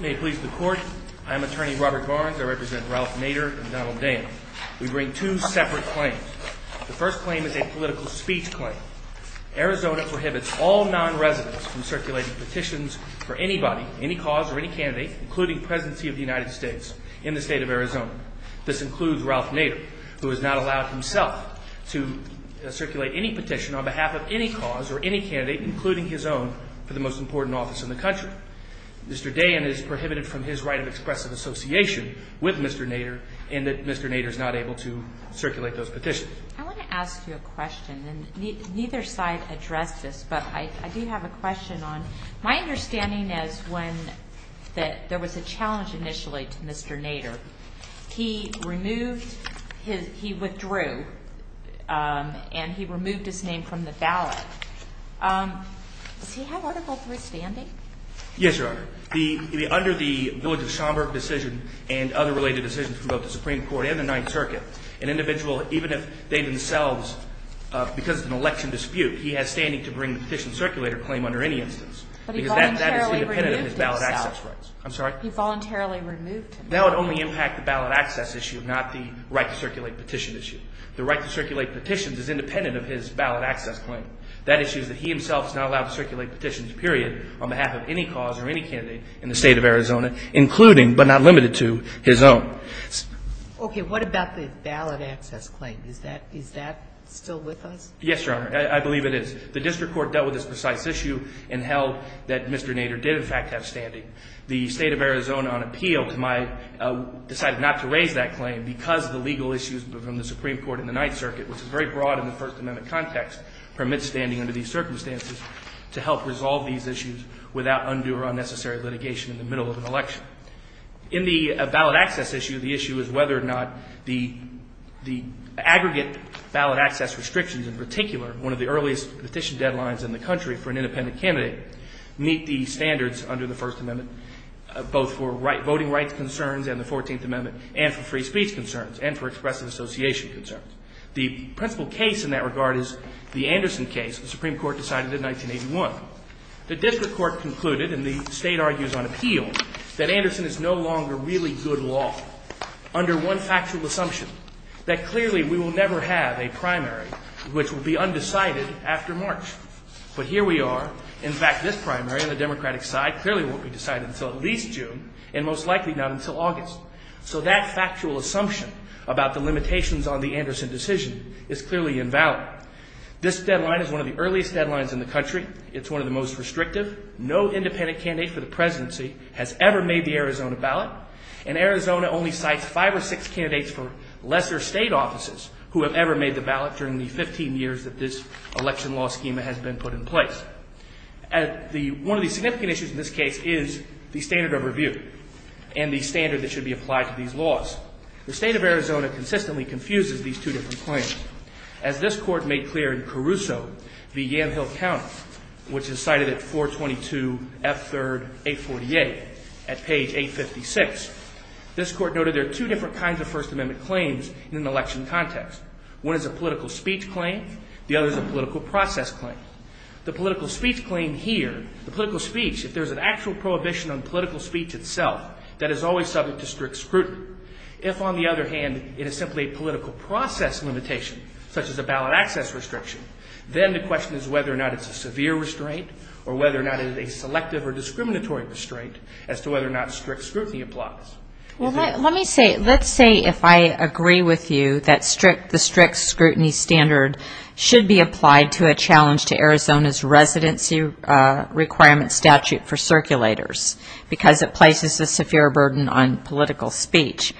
May it please the Court, I am Attorney Robert Barnes. I represent Ralph Nader and Donald Dana. We bring two separate claims. The first claim is a political speech claim. Arizona prohibits all non-residents from circulating petitions for anybody, any cause, or any candidate, including Presidency of the United States, in the state of Arizona. This includes Ralph Nader himself to circulate any petition on behalf of any cause or any candidate, including his own, for the most important office in the country. Mr. Dana is prohibited from his right of expressive association with Mr. Nader, and that Mr. Nader is not able to circulate those petitions. I want to ask you a question, and neither side addressed this, but I do have a question on, my understanding is when there was a challenge initially to Mr. Nader, he removed his, he withdrew, and he removed his name from the ballot. Does he have Article 3 standing? Yes, Your Honor. The, under the Williams-Schomburg decision and other related decisions from both the Supreme Court and the Ninth Circuit, an individual, even if they themselves, because of an election dispute, he has standing to bring the petition circulator claim under any instance. But he voluntarily removed himself. I'm sorry? He voluntarily removed him. That would only impact the ballot access issue, not the right to circulate petition issue. The right to circulate petitions is independent of his ballot access claim. That issue is that he himself is not allowed to circulate petitions, period, on behalf of any cause or any candidate in the state of Arizona, including, but not limited to, his own. Okay, what about the ballot access claim? Is that, is that still with us? Yes, Your Honor, I believe it is. The district court dealt with this precise issue and held that Mr. Nader did, in fact, have standing. The state of Arizona, on appeal to my, decided not to raise that claim because the legal issues from the Supreme Court and the Ninth Circuit, which is very broad in the First Amendment context, permits standing under these circumstances to help resolve these issues without undue or unnecessary litigation in the middle of an election. In the ballot access issue, the issue is whether or not the, the aggregate ballot access restrictions, in particular, one of the earliest petition deadlines in the country for an independent candidate, meet the standards under the First Amendment, both for right, voting rights concerns and the Fourteenth Amendment, and for free speech concerns, and for expressive association concerns. The principal case in that regard is the Anderson case the Supreme Court decided in 1981. The district court concluded, and the state argues on appeal, that Anderson is no longer really good law under one factual assumption, that clearly we will never have a primary which will be undecided after March. But here we are. In fact, this primary on the Democratic side clearly won't be decided until at least June, and most likely not until August. So that factual assumption about the limitations on the Anderson decision is clearly invalid. This deadline is one of the earliest deadlines in the country. It's one of the most restrictive. No independent candidate for the presidency has ever made the Arizona ballot, and Arizona only cites five or six candidates for lesser state offices who have ever made the ballot during the 15 years that this election law schema has been put in place. One of the significant issues in this case is the standard of review and the standard that should be applied to these laws. The state of Arizona consistently confuses these two different claims. As this court made clear in Caruso v. Yamhill County, which is cited at 422 F. 3rd 848 at page 856, this court noted there are two different kinds of First Amendment claims in an election context. One is a political speech claim. The other is a political process claim. The political speech claim here, the political speech, if there is an actual prohibition on political speech itself, that is always subject to strict scrutiny. If on the other hand, it is simply a political process limitation, such as a ballot access restriction, then the question is whether or not it is a severe restraint or whether or not it is a selective or discriminatory restraint as to whether or not strict scrutiny applies. Well, let me say, let's say if I agree with you that the strict scrutiny standard should be applied to a challenge to Arizona's residency requirement statute for circulators because it places a severe burden on political speech.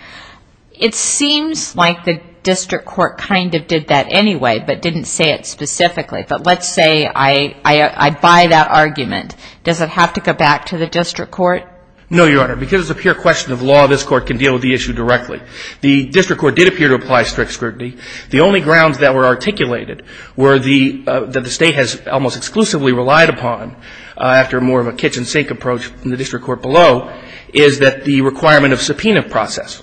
It seems like the district court kind of did that anyway, but didn't say it specifically. But let's say I buy that argument. Does it have to go back to the district court? No, Your Honor. Because it's a pure question of law, this court can deal with the issue directly. The district court did appear to apply strict scrutiny. The only grounds that were articulated were the, that the State has almost exclusively relied upon after more of a kitchen sink approach from the district court below, is that the requirement of subpoena process.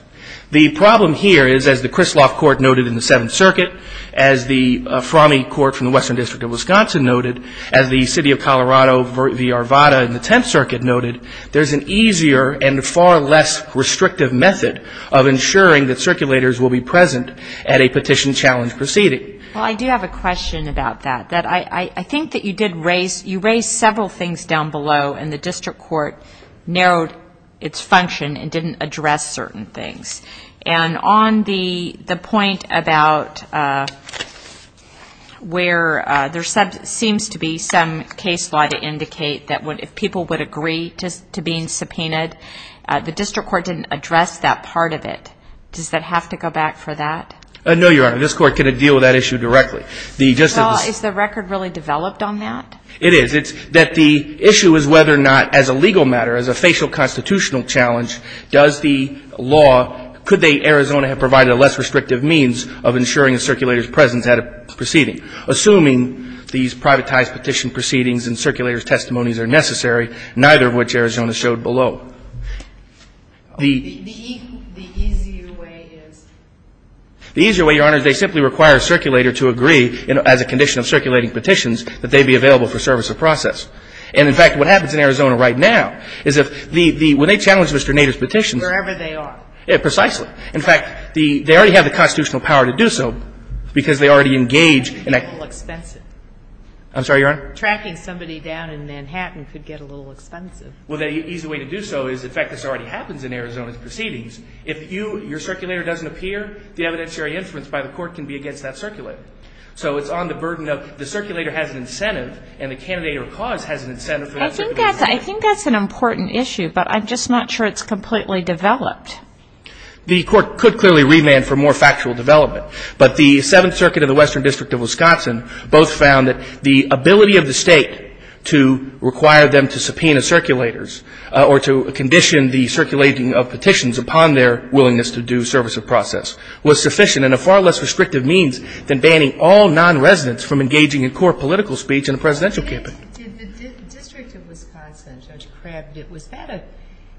The problem here is, as the Krisloff Court noted in the Seventh Circuit, as the Frommie Court from the Western District of Wisconsin noted, as the City of Colorado v. Arvada in the Tenth Circuit noted, there's an easier and far less restrictive method of ensuring that circulators will be present at a petition challenge proceeding. Well, I do have a question about that. I think that you did raise, you raised several things down below, and the district court narrowed its function and didn't address certain things. And on the point about where there seems to be some case law to indicate that if people would agree to being subpoenaed, the district court didn't address that part of it. Does that have to go back for that? No, Your Honor. This court can deal with that issue directly. Well, is the record really developed on that? It is. It's that the issue is whether or not, as a legal matter, as a facial constitutional challenge, does the law, could they, Arizona, have provided a less restrictive means of ensuring a circulator's presence at a proceeding, assuming these privatized petition proceedings and circulator's testimonies are necessary, neither of which Arizona showed below. The easier way is? The easier way, Your Honor, is they simply require a circulator to agree, as a condition of circulating petitions, that they be available for service or process. And, in fact, what happens in Arizona right now is if the — when they challenge Mr. Nader's petitions — Wherever they are. Precisely. In fact, the — they already have the constitutional power to do so because they already engage in a — It could get a little expensive. I'm sorry, Your Honor? Tracking somebody down in Manhattan could get a little expensive. Well, the easy way to do so is, in fact, this already happens in Arizona's proceedings. If you — your circulator doesn't appear, the evidentiary inference by the court can be against that circulator. So it's on the burden of the circulator has an incentive and the candidate or cause has an incentive for that circulator. I think that's an important issue, but I'm just not sure it's completely developed. The court could clearly remand for more factual development, but the Seventh Circuit of the Western District of Wisconsin both found that the ability of the State to require them to subpoena circulators or to condition the circulating of petitions upon their willingness to do service of process was sufficient and a far less restrictive means than banning all nonresidents from engaging in core political speech in a presidential campaign. Did the District of Wisconsin, Judge Crabb, did — was that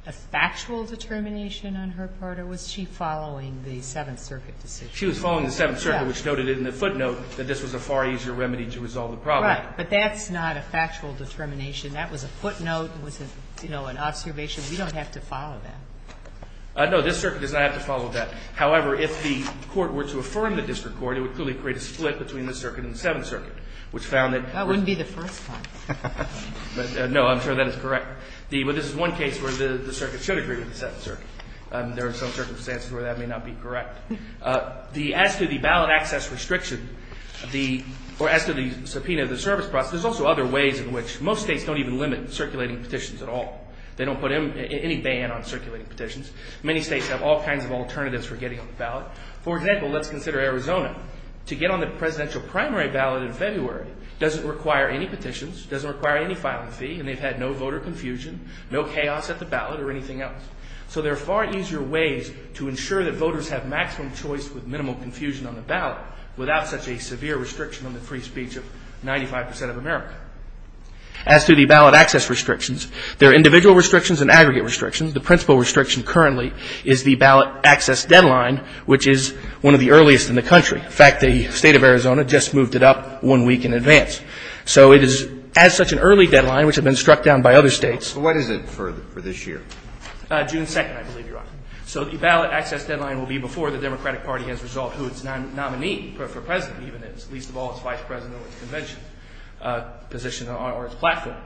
a factual determination on her part, or was she following the Seventh Circuit decision? She was following the Seventh Circuit, which noted in the footnote that this was a far easier remedy to resolve the problem. Right. But that's not a factual determination. That was a footnote. It was, you know, an observation. We don't have to follow that. No, this circuit does not have to follow that. However, if the court were to affirm the district court, it would clearly create a split between the circuit and the Seventh Circuit, which found that — That wouldn't be the first one. No, I'm sure that is correct. But this is one case where the circuit should agree with the Seventh Circuit. There are some circumstances where that may not be correct. As to the ballot access restriction, the — or as to the subpoena of the service process, there's also other ways in which most States don't even limit circulating petitions at all. They don't put any ban on circulating petitions. Many States have all kinds of alternatives for getting on the ballot. For example, let's consider Arizona. To get on the presidential primary ballot in February doesn't require any petitions, doesn't require any filing fee, and they've had no voter confusion, no chaos at the ballot, or anything else. So there are far easier ways to ensure that voters have maximum choice with minimal confusion on the ballot without such a severe restriction on the free speech of 95 percent of America. As to the ballot access restrictions, there are individual restrictions and aggregate restrictions. The principal restriction currently is the ballot access deadline, which is one of the earliest in the country. In fact, the State of Arizona just moved it up one week in advance. So it is, as such, an early deadline, which has been struck down by other States. What is it for this year? June 2nd, I believe, Your Honor. So the ballot access deadline will be before the Democratic Party has resolved who its nominee for president even is. Least of all, its vice president will have no intervention position on our platform.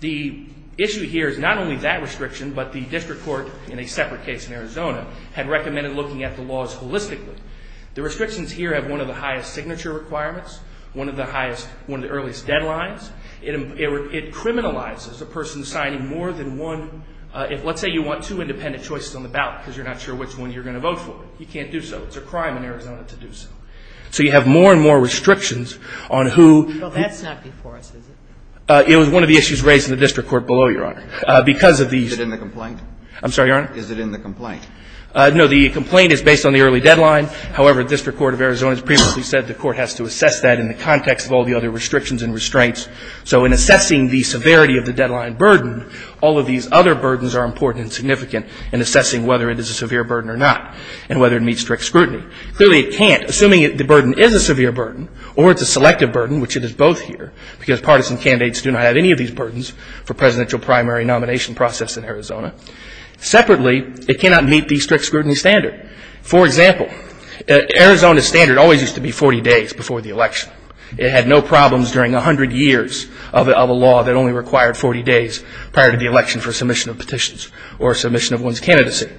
The issue here is not only that restriction, but the district court, in a separate case in Arizona, had recommended looking at the laws holistically. The restrictions here have one of the highest signature requirements, one of the earliest deadlines. It criminalizes a person signing more than one. Let's say you want two independent choices on the ballot because you're not sure which one you're going to vote for. You can't do so. It's a crime in Arizona to do so. So you have more and more restrictions on who — But that's not before us, is it? It was one of the issues raised in the district court below, Your Honor. Because of these — Is it in the complaint? I'm sorry, Your Honor? Is it in the complaint? No. The complaint is based on the early deadline. However, district court of Arizona has previously said the court has to assess that in the context of all the other restrictions and restraints. So in assessing the severity of the deadline burden, all of these other burdens are important and significant in assessing whether it is a severe burden or not and whether it meets strict scrutiny. Clearly, it can't, assuming the burden is a severe burden or it's a selective burden, which it is both here, because partisan candidates do not have any of these burdens for presidential primary nomination process in Arizona. Separately, it cannot meet the strict scrutiny standard. For example, Arizona's standard always used to be 40 days before the election. It had no problems during 100 years of a law that only required 40 days prior to the election for submission of petitions or submission of one's candidacy.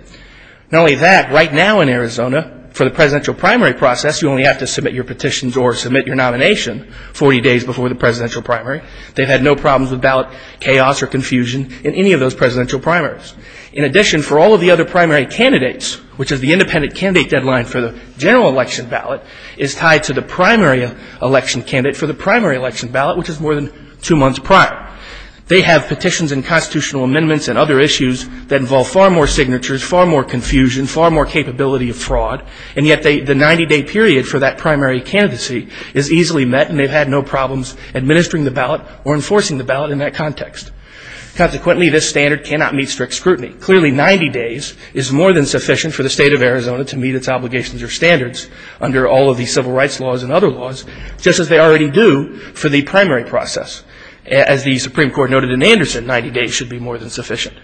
Not only that, right now in Arizona, for the presidential primary process, you only have to submit your petitions or submit your nomination 40 days before the presidential primary. They've had no problems with ballot chaos or confusion in any of those presidential primaries. In addition, for all of the other primary candidates, which is the independent candidate deadline for the general election ballot, is tied to the primary election candidate for the primary election ballot, which is more than two months prior. They have petitions and constitutional amendments and other issues that involve far more signatures, far more confusion, far more capability of fraud, and yet the 90-day period for that primary candidacy is easily met and they've had no problems administering the ballot or enforcing the ballot in that context. Consequently, this standard cannot meet strict scrutiny. Clearly, 90 days is more than sufficient for the State of Arizona to meet its obligations or standards under all of the civil rights laws and other laws, just as they already do for the primary process. As the Supreme Court has said, 90 days should be more than sufficient.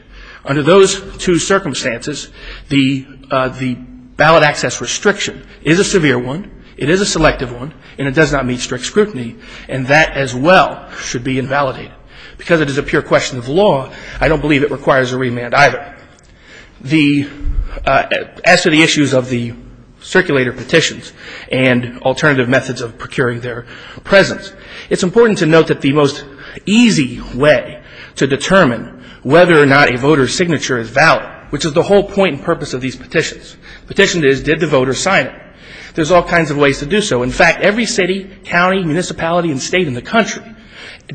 Under those two circumstances, the ballot access restriction is a severe one, it is a selective one, and it does not meet strict scrutiny, and that as well should be invalidated. Because it is a pure question of law, I don't believe it requires a remand either. As to the issues of the circulator petitions and alternative methods of procuring their to determine whether or not a voter's signature is valid, which is the whole point and purpose of these petitions. The petition is, did the voter sign it? There's all kinds of ways to do so. In fact, every city, county, municipality, and state in the country,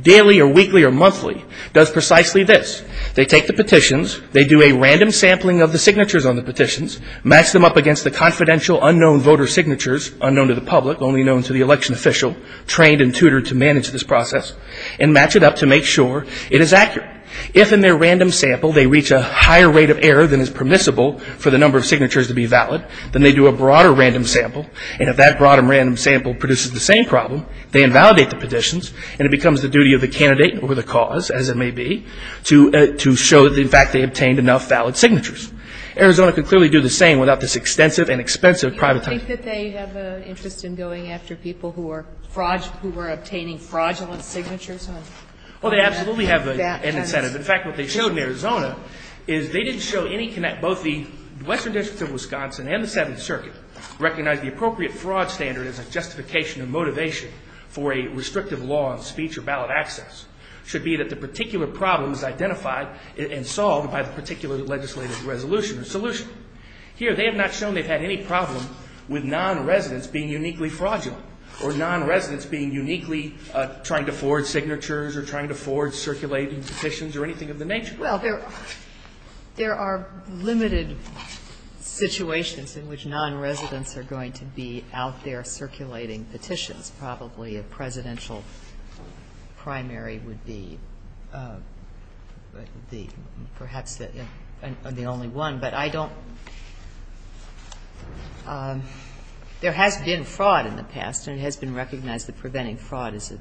daily or weekly or monthly, does precisely this. They take the petitions, they do a random sampling of the signatures on the petitions, match them up against the confidential, unknown voter signatures, unknown to the public, only known to the election official, trained and tutored to manage this process, and match it up to make sure it is accurate. If in their random sample they reach a higher rate of error than is permissible for the number of signatures to be valid, then they do a broader random sample, and if that broader random sample produces the same problem, they invalidate the petitions, and it becomes the duty of the candidate or the cause, as it may be, to show that in fact they obtained enough valid signatures. Arizona could clearly do the same without this extensive and expensive private time. Sotomayor, do you think that they have an interest in going after people who are obtaining fraudulent signatures? Well, they absolutely have an incentive. In fact, what they showed in Arizona is they didn't show any connect. Both the Western District of Wisconsin and the Seventh Circuit recognize the appropriate fraud standard as a justification of motivation for a restrictive law on speech or ballot access. It should be that the particular problem is identified and solved by the particular legislative resolution or solution. Here, they have not shown they've had any problem with nonresidents being uniquely fraudulent or nonresidents being uniquely trying to forge signatures or trying to forge circulating petitions or anything of the nature. Well, there are limited situations in which nonresidents are going to be out there circulating petitions. Probably a presidential primary would be the perhaps the only one, but I don't think that's the case. So there has been fraud in the past, and it has been recognized that preventing fraud is a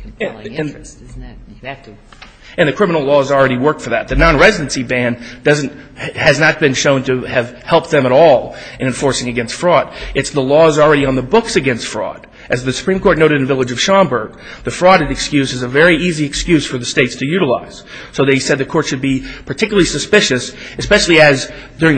compelling interest, isn't it? And the criminal laws already work for that. The nonresidency ban doesn't – has not been shown to have helped them at all in enforcing against fraud. It's the laws already on the books against fraud. As the Supreme Court noted in the village of Schomburg, the fraud excuse is a very easy excuse for the States to utilize. So they said the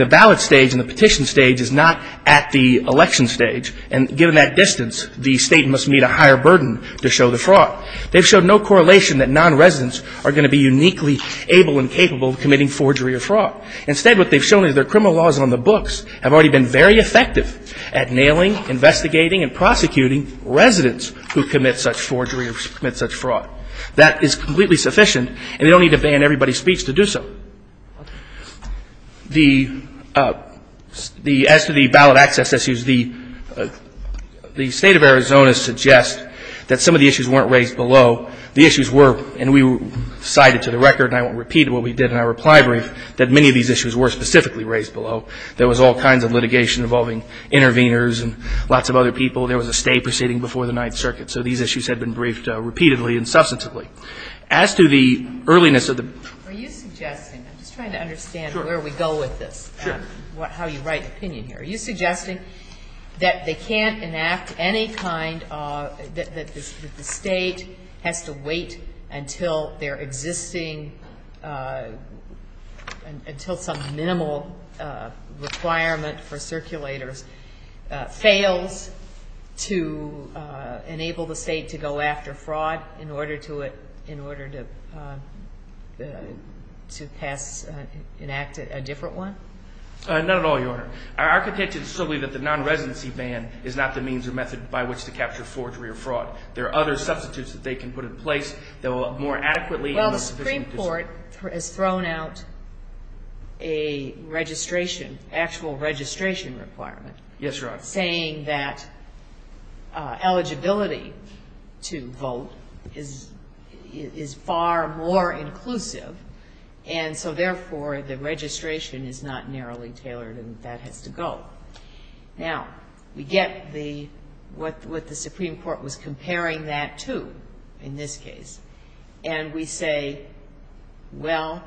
ballot stage and the petition stage is not at the election stage, and given that distance, the State must meet a higher burden to show the fraud. They've shown no correlation that nonresidents are going to be uniquely able and capable of committing forgery or fraud. Instead, what they've shown is their criminal laws on the books have already been very effective at nailing, investigating, and prosecuting residents who commit such forgery or commit such fraud. That is completely sufficient, and they don't need to ban everybody's speech to do so. The – as to the ballot access issues, the State of Arizona suggests that some of the issues weren't raised below. The issues were – and we cited to the record, and I won't repeat what we did in our reply brief – that many of these issues were specifically raised below. There was all kinds of litigation involving interveners and lots of other people. There was a stay proceeding before the Ninth Circuit. So these issues had been briefed repeatedly and substantively. As to the earliness of the – Are you suggesting – I'm just trying to understand where we go with this. Sure. How you write opinion here. Are you suggesting that they can't enact any kind of – that the State has to wait until their existing – until some minimal requirement for circulators fails to enable the State to go after fraud in order to – in order to pass – enact a different one? Not at all, Your Honor. Our contention is simply that the nonresidency ban is not the means or method by which to capture forgery or fraud. There are other substitutes that they can put in place that will more adequately – Well, the Supreme Court has thrown out a registration – actual registration requirement. Yes, Your Honor. Saying that eligibility to vote is far more inclusive. And so, therefore, the registration is not narrowly tailored and that has to go. Now, we get the – what the Supreme Court was comparing that to in this case. And we say, well,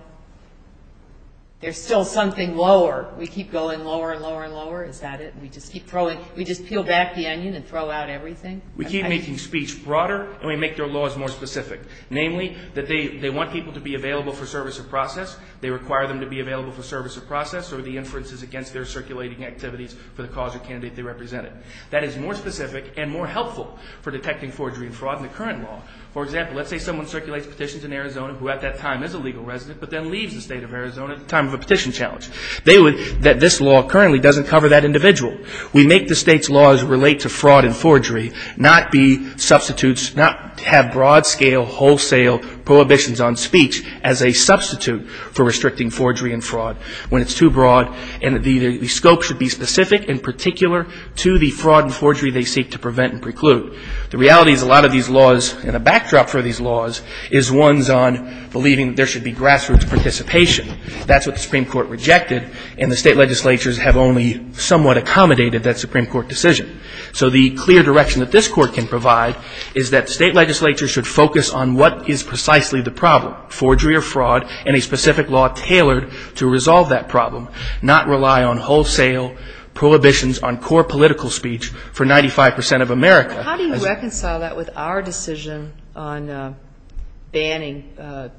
there's still something lower. We keep going lower and lower and lower. Is that it? We just keep throwing – we just peel back the onion and throw out everything? We keep making speech broader and we make their laws more specific. Namely, that they want people to be available for service of process. They require them to be available for service of process or the inferences against their circulating activities for the cause or candidate they represented. That is more specific and more helpful for detecting forgery and fraud in the current law. For example, let's say someone circulates petitions in Arizona who at that time is a legal resident but then leaves the State of Arizona at the time of a petition challenge. They would – that this law currently doesn't cover that individual. We make the State's laws relate to fraud and forgery, not be substitutes, not have broad scale wholesale prohibitions on speech as a substitute for restricting forgery and fraud when it's too broad. And the scope should be specific in particular to the fraud and forgery they seek to prevent and preclude. The reality is a lot of these laws and the backdrop for these laws is ones on believing there should be grassroots participation. That's what the Supreme Court rejected and the State legislatures have only somewhat accommodated that Supreme Court decision. So the clear direction that this Court can provide is that State legislatures should focus on what is precisely the problem, forgery or fraud, and a specific law tailored to resolve that problem, not rely on wholesale prohibitions on core political speech for 95 percent of America. How do you reconcile that with our decision on banning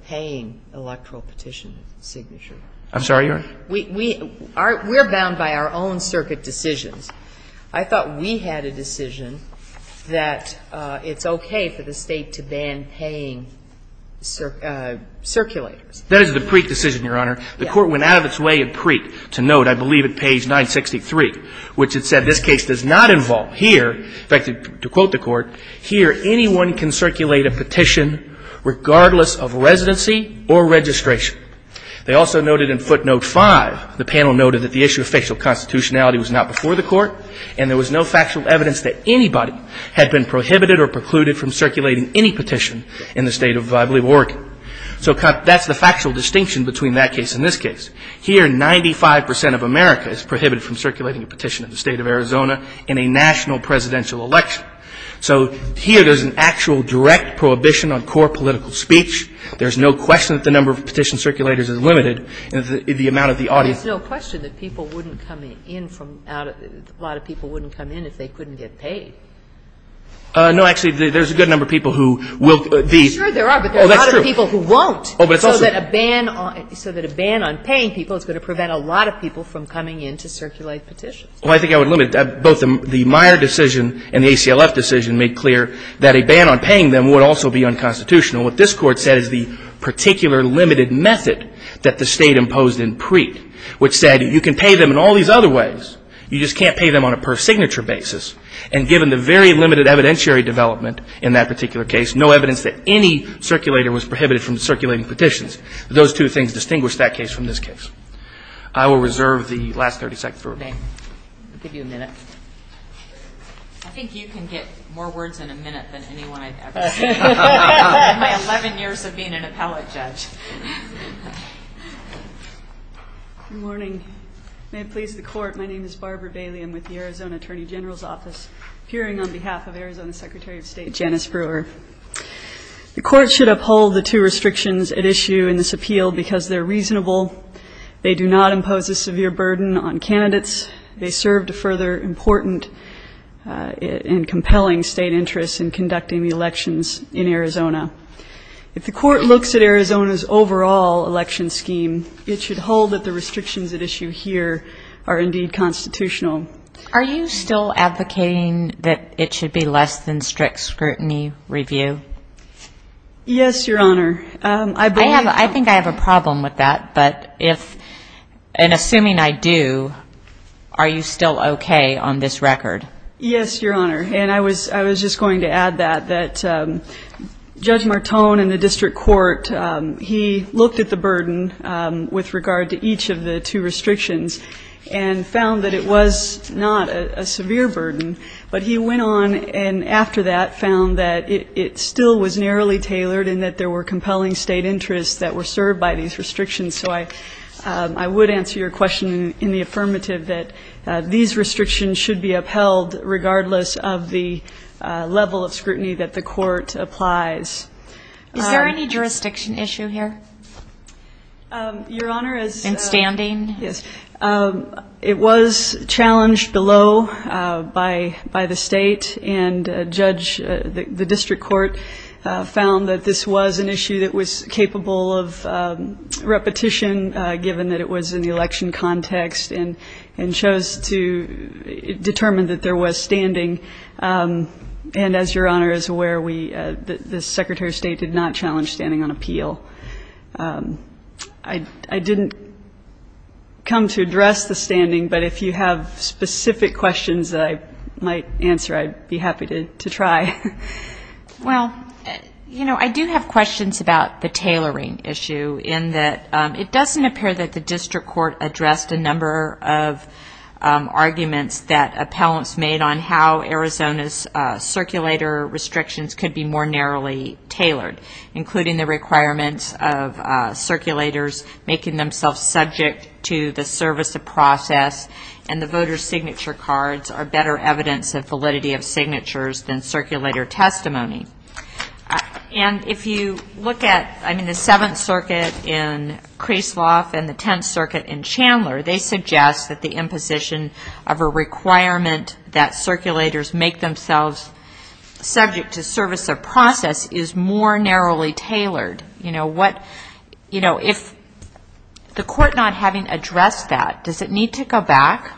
paying electoral petition signatures? I'm sorry, Your Honor? We're bound by our own circuit decisions. I thought we had a decision that it's okay for the State to ban paying circulators. That is the Preet decision, Your Honor. Yes. The Court went out of its way at Preet to note, I believe, at page 963, which it said this case does not involve here. In fact, to quote the Court, here anyone can circulate a petition regardless of residency or registration. They also noted in footnote 5, the panel noted that the issue of fictional constitutionality was not before the Court and there was no factual evidence that anybody had been prohibited or precluded from circulating any petition in the State of, I believe, Oregon. So that's the factual distinction between that case and this case. Here 95 percent of America is prohibited from circulating a petition in the State of Arizona in a national presidential election. So here there's an actual direct prohibition on core political speech. There's no question that the number of petition circulators is limited in the amount of the audience. There's no question that people wouldn't come in from out of the – a lot of people wouldn't come in if they couldn't get paid. No, actually, there's a good number of people who will be – Sure there are, but there are a lot of people who won't. Oh, but it's also – So that a ban on – so that a ban on paying people is going to prevent a lot of people from coming in to circulate petitions. Well, I think I would limit – both the Meyer decision and the ACLF decision made clear that a ban on paying them would also be unconstitutional. What this Court said is the particular limited method that the State imposed in Preet, which said you can pay them in all these other ways. You just can't pay them on a per-signature basis. And given the very limited evidentiary development in that particular case, no evidence that any circulator was prohibited from circulating petitions, those two things distinguish that case from this case. I will reserve the last 30 seconds for rebuttal. Okay. I'll give you a minute. I think you can get more words in a minute than anyone I've ever seen. In my 11 years of being an appellate judge. Good morning. May it please the Court, my name is Barbara Bailey. I'm with the Arizona Attorney General's Office, appearing on behalf of Arizona Secretary of State Janice Brewer. The Court should uphold the two restrictions at issue in this appeal because they're reasonable, they do not impose a severe burden on candidates, they serve to further important and compelling State interests in conducting the elections in Arizona. If the Court looks at Arizona's overall election scheme, it should hold that the restrictions at issue here are indeed constitutional. Are you still advocating that it should be less than strict scrutiny review? Yes, Your Honor. I think I have a problem with that. But if, and assuming I do, are you still okay on this record? Yes, Your Honor. And I was just going to add that Judge Martone in the district court, he looked at the burden with regard to each of the two restrictions and found that it was not a severe burden. But he went on and after that found that it still was narrowly tailored and that there were compelling State interests that were served by these restrictions. So I would answer your question in the affirmative that these restrictions should be upheld, regardless of the level of scrutiny that the Court applies. Is there any jurisdiction issue here? Your Honor, as the... In standing? Yes. It was challenged below by the State, and Judge, the district court found that this was an issue that was capable of repetition, given that it was in the election context and chose to determine that there was standing. And as Your Honor is aware, the Secretary of State did not challenge standing on appeal. I didn't come to address the standing, but if you have specific questions that I might answer, I'd be happy to try. Well, you know, I do have questions about the tailoring issue in that it doesn't appear that the district court addressed a number of arguments that appellants made on how Arizona's circulator restrictions could be more narrowly tailored, including the requirements of circulators making themselves subject to the service of process and the voter's signature cards are better evidence of validity of signatures than circulator testimony. And if you look at the Seventh Circuit in Kresloff and the Tenth Circuit in Chandler, they suggest that the imposition of a requirement that circulators make themselves subject to service of process is more narrowly tailored. You know, what, you know, if the court not having addressed that, does it need to go back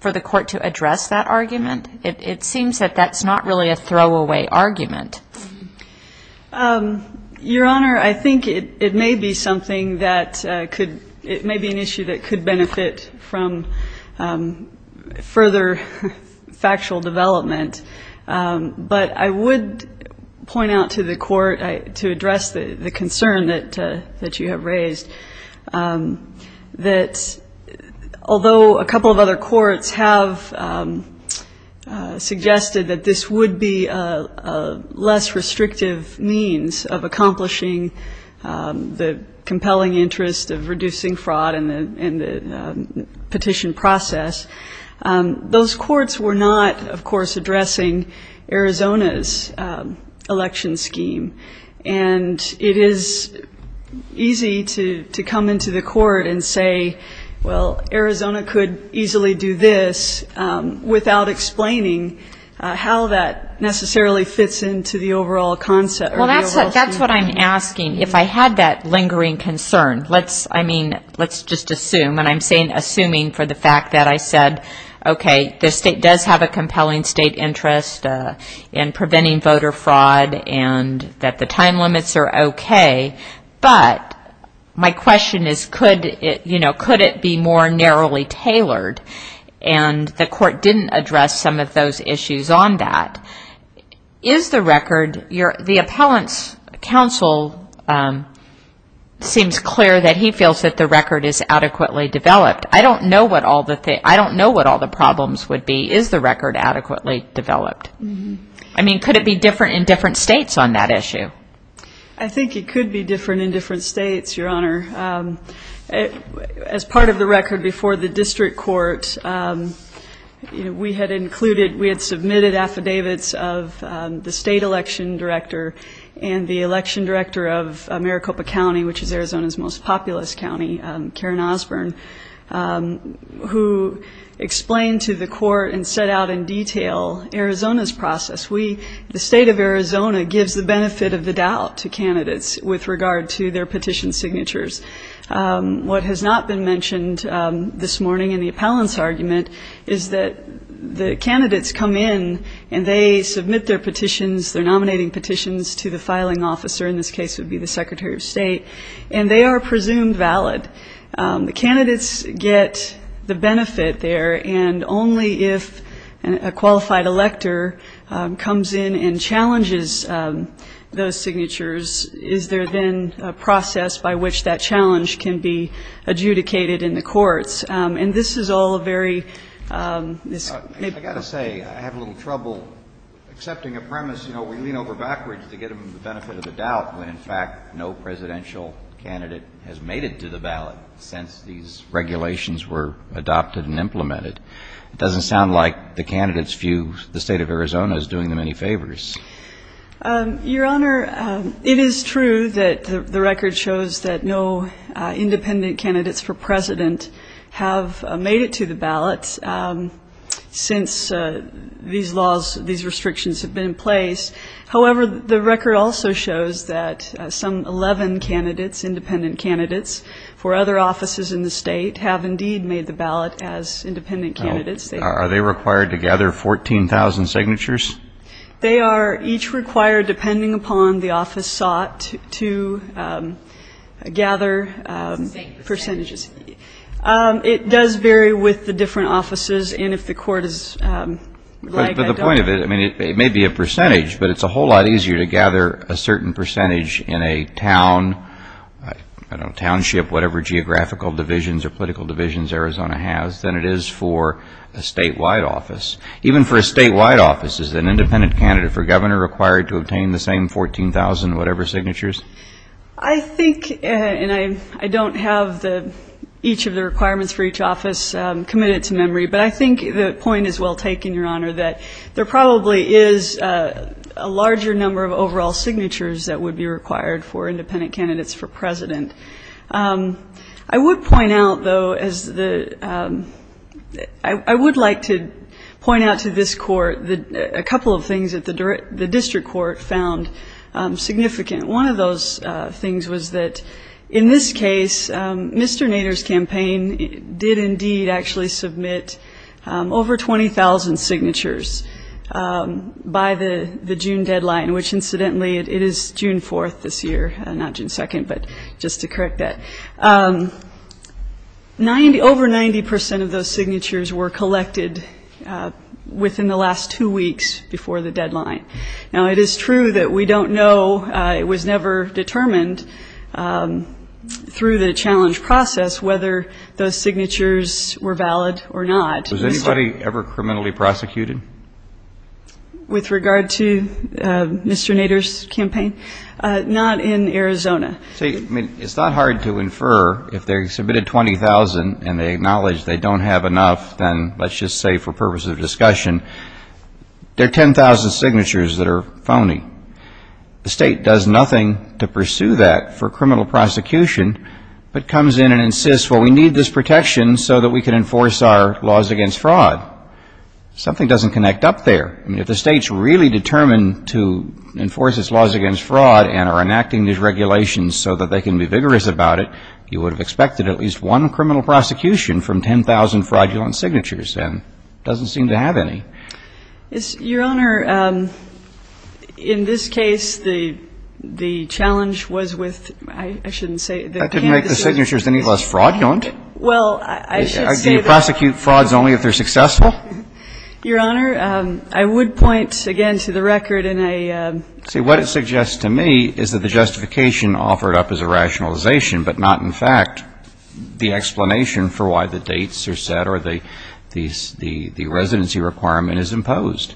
for the court to address that argument? It seems that that's not really a throwaway argument. Your Honor, I think it may be something that could, it may be an issue that could benefit from further factual development. But I would point out to the court, to address the concern that you have raised, that although a couple of other courts have suggested that this would be a less restrictive means of accomplishing the compelling interest of reducing fraud in the petition process, those courts were not, of course, addressing Arizona's election scheme. And it is easy to come into the court and say, well, Arizona could easily do this, without explaining how that necessarily fits into the overall concept. Well, that's what I'm asking. If I had that lingering concern, let's, I mean, let's just assume, and I'm saying assuming for the fact that I said, okay, the state does have a compelling state interest in preventing voter fraud, and that the time limits are okay. But my question is, could it, you know, could it be more narrowly tailored? And the court didn't address some of those issues on that. Is the record, the appellant's counsel seems clear that he feels that the record is adequately developed. I don't know what all the problems would be. Is the record adequately developed? I mean, could it be different in different states on that issue? I think it could be different in different states, Your Honor. As part of the record before the district court, we had included, we had submitted affidavits of the state election director and the election director of Maricopa County, which is Arizona's most populous county, Karen Osborne, who explained to the court and set out in detail Arizona's process. We, the state of Arizona, gives the benefit of the doubt to candidates with regard to their petition signatures. What has not been mentioned this morning in the appellant's argument is that the candidates come in and they submit their petitions, their nominating petitions to the filing officer, in this case it would be the Secretary of State, and they are presumed valid. The candidates get the benefit there, and only if a qualified elector comes in and challenges those signatures is there then a process by which that challenge can be adjudicated in the courts. And this is all a very ñ I've got to say, I have a little trouble accepting a premise, you know, we lean over backwards to get them the benefit of the doubt when, in fact, no presidential candidate has made it to the ballot since these regulations were adopted and implemented. It doesn't sound like the candidates view the state of Arizona as doing them any favors. Your Honor, it is true that the record shows that no independent candidates for president have made it to the ballot. Since these laws, these restrictions have been in place. However, the record also shows that some 11 candidates, independent candidates, for other offices in the state have indeed made the ballot as independent candidates. Are they required to gather 14,000 signatures? They are each required, depending upon the office sought, to gather percentages. It does vary with the different offices. And if the court is ñ But the point of it, I mean, it may be a percentage, but it's a whole lot easier to gather a certain percentage in a town, I don't know, township, whatever geographical divisions or political divisions Arizona has than it is for a statewide office. Even for a statewide office, is an independent candidate for governor required to obtain the same 14,000-whatever-signatures? I think, and I don't have each of the requirements for each office committed to memory, but I think the point is well taken, Your Honor, that there probably is a larger number of overall signatures that would be required for independent candidates for president. I would point out, though, as the ñ I would like to point out to this Court a couple of things that the district court found significant. One of those things was that in this case, Mr. Nader's campaign did indeed actually submit over 20,000 signatures by the June deadline, which, incidentally, it is June 4th this year, not June 2nd, but just to correct that. Over 90 percent of those signatures were collected within the last two weeks before the deadline. Now, it is true that we don't know, it was never determined through the challenge process whether those signatures were valid or not. Was anybody ever criminally prosecuted? With regard to Mr. Nader's campaign? Not in Arizona. See, I mean, it's not hard to infer if they submitted 20,000 and they acknowledge they don't have enough, then let's just say for purposes of discussion, there are 10,000 signatures that are phony. The State does nothing to pursue that for criminal prosecution, but comes in and insists, well, we need this protection so that we can enforce our laws against fraud. Something doesn't connect up there. I mean, if the State's really determined to enforce its laws against fraud and are enacting these regulations so that they can be vigorous about it, you would have expected at least one criminal prosecution from 10,000 fraudulent signatures. It doesn't seem to have any. Your Honor, in this case, the challenge was with, I shouldn't say, the campaign. That didn't make the signatures any less fraudulent. Well, I should say that. Do you prosecute frauds only if they're successful? Your Honor, I would point, again, to the record in a... In fact, the explanation for why the dates are set or the residency requirement is imposed.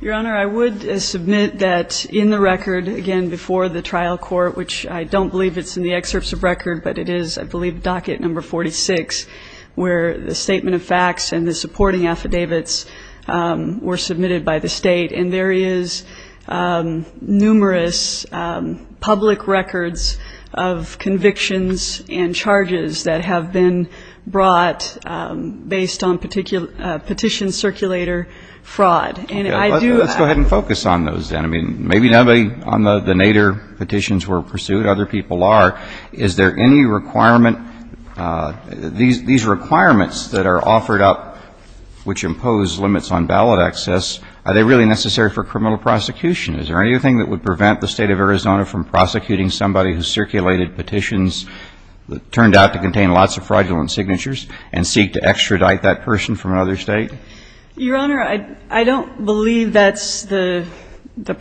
Your Honor, I would submit that in the record, again, before the trial court, which I don't believe it's in the excerpts of record, but it is, I believe, docket number 46, where the statement of facts and the supporting affidavits were submitted by the State. And there is numerous public records of convictions and charges that have been brought based on petition circulator fraud. And I do... Let's go ahead and focus on those then. I mean, maybe nobody on the Nader petitions were pursued. Other people are. Is there any requirement, these requirements that are offered up which impose limits on ballot access, are they really necessary for criminal prosecution? Is there anything that would prevent the State of Arizona from prosecuting somebody who circulated petitions that turned out to contain lots of fraudulent signatures and seek to extradite that person from another State? Your Honor, I don't believe that's the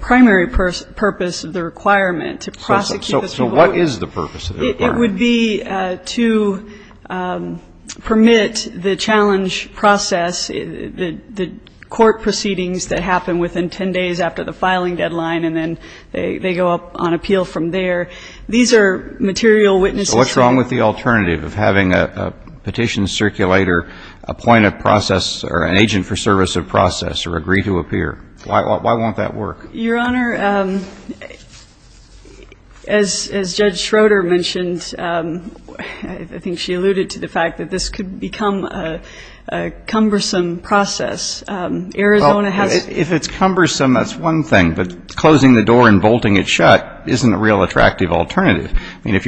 primary purpose of the requirement, to prosecute... So what is the purpose of the requirement? It would be to permit the challenge process, the court proceedings that happen within 10 days after the filing deadline, and then they go up on appeal from there. These are material witnesses... So what's wrong with the alternative of having a petition circulator appoint a process or an agent for service of process or agree to appear? Why won't that work? Your Honor, as Judge Schroeder mentioned, I think she alluded to the fact that this could become a cumbersome process. Arizona has... If it's cumbersome, that's one thing. But closing the door and bolting it shut isn't a real attractive alternative. I mean, if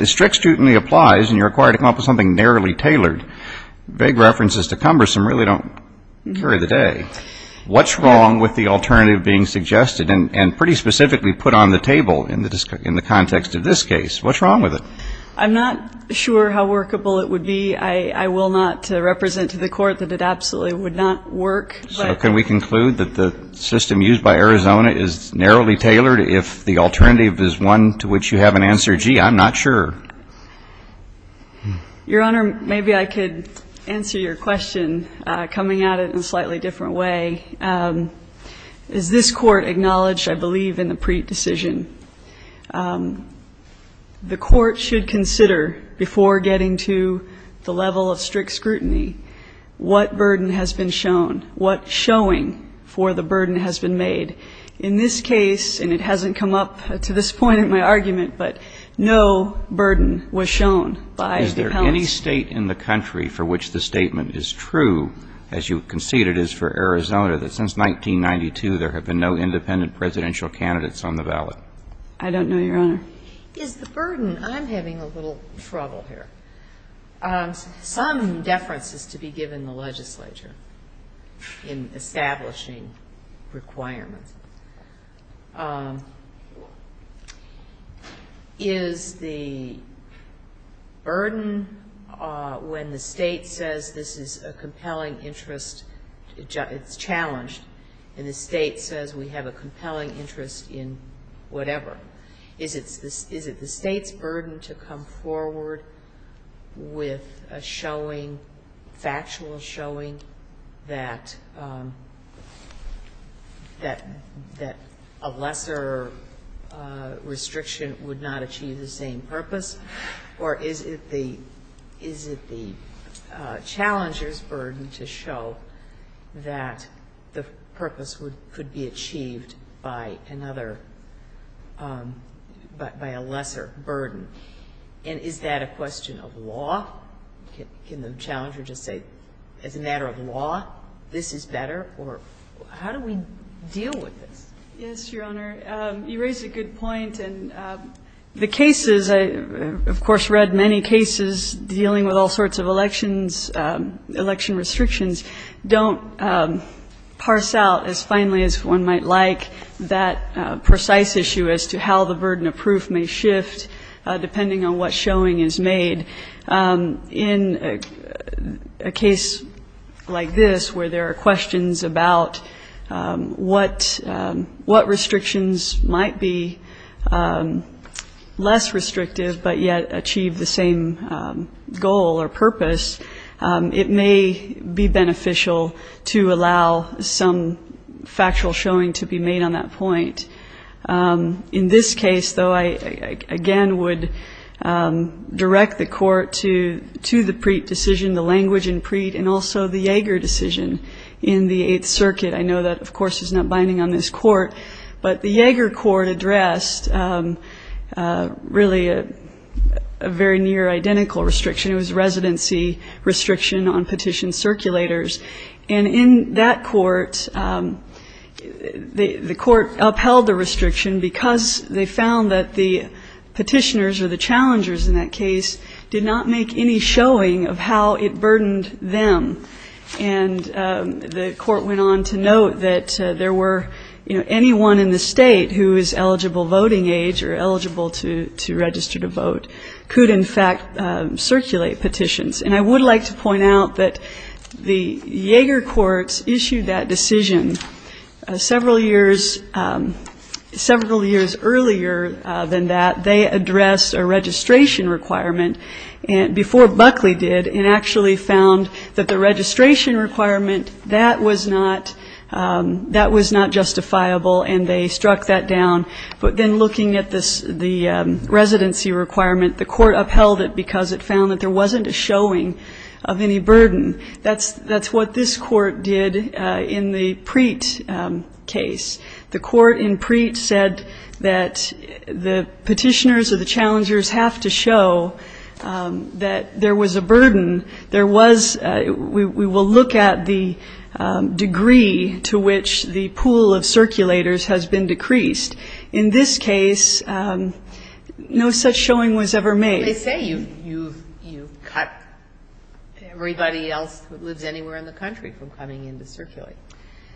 a strict student applies and you're required to come up with something narrowly tailored, vague references to cumbersome really don't carry the day. What's wrong with the alternative being suggested and pretty specifically put on the table in the context of this case? What's wrong with it? I'm not sure how workable it would be. I will not represent to the Court that it absolutely would not work. So can we conclude that the system used by Arizona is narrowly tailored if the alternative is one to which you have an answer, gee, I'm not sure? Your Honor, maybe I could answer your question coming at it in a slightly different way. As this Court acknowledged, I believe, in the Preet decision, the Court should consider before getting to the level of strict scrutiny what burden has been shown, what showing for the burden has been made. In this case, and it hasn't come up to this point in my argument, but no burden was shown by the penalty. Is there any State in the country for which the statement is true, as you concede it is for Arizona, that since 1992 there have been no independent presidential candidates on the ballot? I don't know, Your Honor. Is the burden — I'm having a little trouble here. Some deference is to be given the legislature in establishing requirements. Is the burden when the State says this is a compelling interest, it's challenged, and the State says we have a compelling interest in whatever, is it the State's burden to come forward with a showing, factual showing, that there is a compelling interest, that a lesser restriction would not achieve the same purpose, or is it the challenger's burden to show that the purpose could be achieved by another, by a lesser burden? And is that a question of law? Can the challenger just say, as a matter of law, this is better? Or how do we deal with this? Yes, Your Honor. You raise a good point. And the cases — I, of course, read many cases dealing with all sorts of elections — election restrictions — don't parse out as finely as one might like that precise issue as to how the burden of proof may shift depending on what showing is made. In a case like this where there are questions about what restrictions might be less restrictive, but yet achieve the same goal or purpose, it may be beneficial to allow some factual showing to be made on that point. In this case, though, I, again, would direct the Court to the Preet decision, the language in Preet, and also the Yeager decision in the Eighth Circuit. I know that, of course, is not binding on this Court, but the Yeager Court addressed really a very near-identical restriction. It was a residency restriction on petition circulators. And in that court, the Court upheld the restriction because they found that the petitioners or the challengers in that case did not make any showing of how it burdened them. And the Court went on to note that there were — you know, anyone in the state who is eligible voting age or eligible to register to vote could, in fact, circulate petitions. And I would like to point out that the Yeager courts issued that decision several years earlier than that. They addressed a registration requirement before Buckley did and actually found that the registration requirement, that was not justifiable, and they struck that down. But then looking at the residency requirement, the Court upheld it because it found that there wasn't a showing of any burden. That's what this Court did in the Preet case. The Court in Preet said that the petitioners or the challengers have to show that there was a burden. There was — we will look at the degree to which the pool of circulators has been decreased. In this case, no such showing was ever made. Ginsburg. They say you've cut everybody else who lives anywhere in the country from coming in to circulate.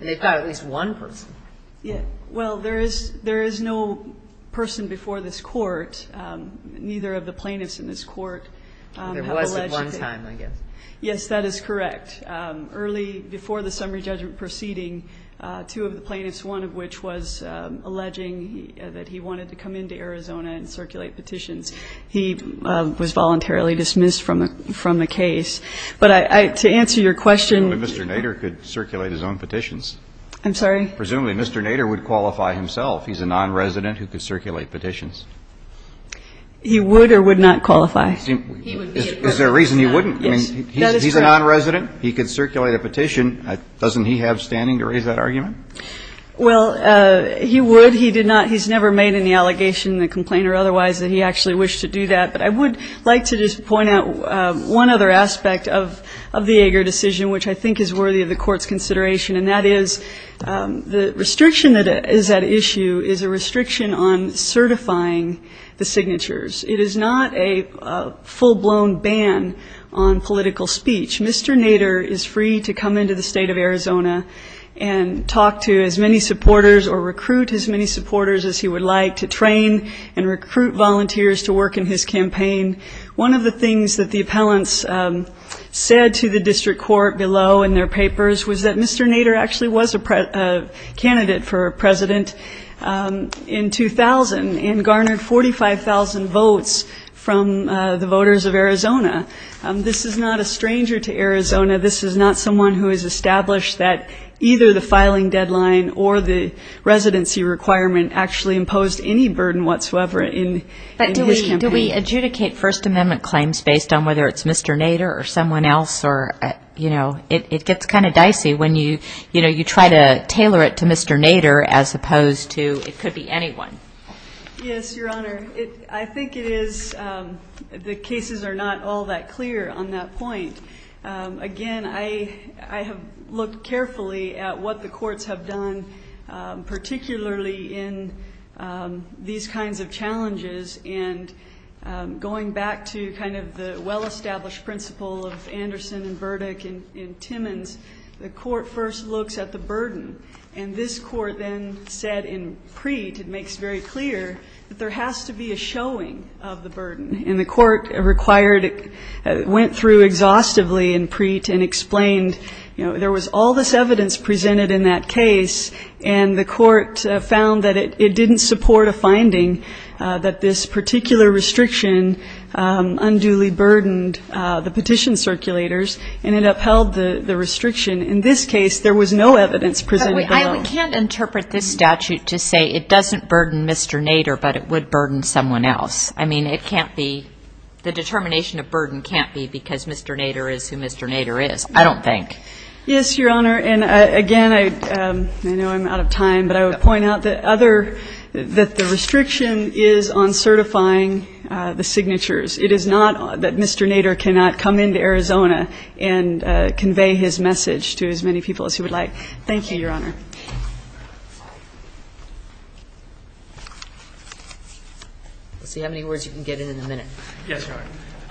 And they've got at least one person. Well, there is no person before this Court, neither of the plaintiffs in this Court have alleged to. There was at one time, I guess. Yes, that is correct. But early before the summary judgment proceeding, two of the plaintiffs, one of which was alleging that he wanted to come into Arizona and circulate petitions, he was voluntarily dismissed from the case. But to answer your question — Presumably Mr. Nader could circulate his own petitions. I'm sorry? Presumably Mr. Nader would qualify himself. He's a nonresident who could circulate petitions. He would or would not qualify. Is there a reason he wouldn't? Yes. He's a nonresident. He could circulate a petition. Doesn't he have standing to raise that argument? Well, he would. He did not. He's never made any allegation in the complaint or otherwise that he actually wished to do that. But I would like to just point out one other aspect of the Ager decision, which I think is worthy of the Court's consideration, and that is the restriction that is at issue is a restriction on certifying the signatures. It is not a full-blown ban on political speech. Mr. Nader is free to come into the state of Arizona and talk to as many supporters or recruit as many supporters as he would like to train and recruit volunteers to work in his campaign. One of the things that the appellants said to the district court below in their papers was that Mr. Nader actually was a candidate for president in 2000 and garnered 45,000 votes from the voters of Arizona. This is not a stranger to Arizona. This is not someone who has established that either the filing deadline or the residency requirement actually imposed any burden whatsoever in his campaign. But do we adjudicate First Amendment claims based on whether it's Mr. Nader or someone else? Or, you know, it gets kind of dicey when you try to tailor it to Mr. Nader as opposed to it could be anyone. Yes, Your Honor. I think it is the cases are not all that clear on that point. Again, I have looked carefully at what the courts have done, particularly in these kinds of challenges. And going back to kind of the well-established principle of Anderson and Burdick and Timmons, the court first looks at the burden. And this court then said in Preet it makes very clear that there has to be a showing of the burden. And the court required it, went through exhaustively in Preet and explained, you know, there was all this evidence presented in that case, and the court found that it didn't support a finding that this particular restriction unduly burdened the petition circulators and it upheld the restriction. In this case, there was no evidence presented at all. But we can't interpret this statute to say it doesn't burden Mr. Nader, but it would burden someone else. I mean, it can't be, the determination of burden can't be because Mr. Nader is who Mr. Nader is, I don't think. Yes, Your Honor. And, again, I know I'm out of time, but I would point out that other, that the restriction is on certifying the signatures. It is not that Mr. Nader cannot come into Arizona and convey his message to as many people as he would like. Thank you, Your Honor. Let's see how many words you can get in in a minute. Yes, Your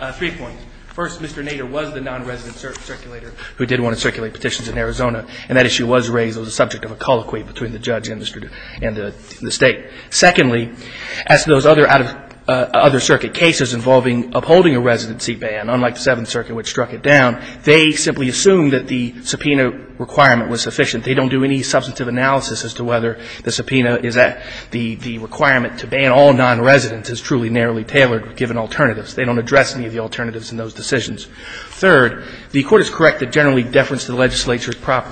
Honor. Three points. First, Mr. Nader was the nonresident circulator who did want to circulate petitions in Arizona, and that issue was raised. It was a subject of a colloquy between the judge and the State. Secondly, as to those other out-of-circuit cases involving upholding a residency ban, unlike the Seventh Circuit, which struck it down, they simply assumed that the subpoena requirement was sufficient. They don't do any substantive analysis as to whether the subpoena is at, the requirement to ban all nonresidents is truly narrowly tailored given alternatives. They don't address any of the alternatives in those decisions. Third, the Court is correct that generally deference to the legislature is proper.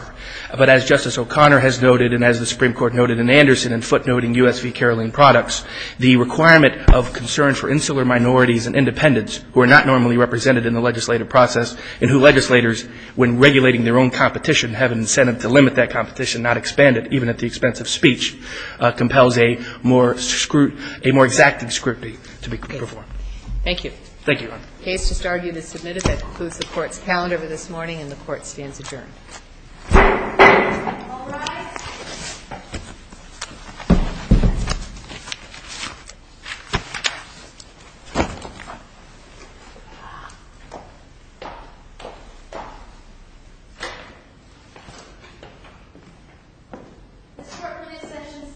But as Justice O'Connor has noted and as the Supreme Court noted in Anderson and footnoting U.S. v. Caroline products, the requirement of concern for insular minorities and independents who are not normally represented in the legislative process and who legislators, when regulating their own competition, have an incentive to limit that competition, not expand it, even at the expense of speech, compels a more exacting scrutiny to be performed. Thank you. Thank you, Your Honor. The case just argued is submitted. That concludes the Court's calendar for this morning, and the Court stands adjourned. All rise. The Court for this session stands adjourned.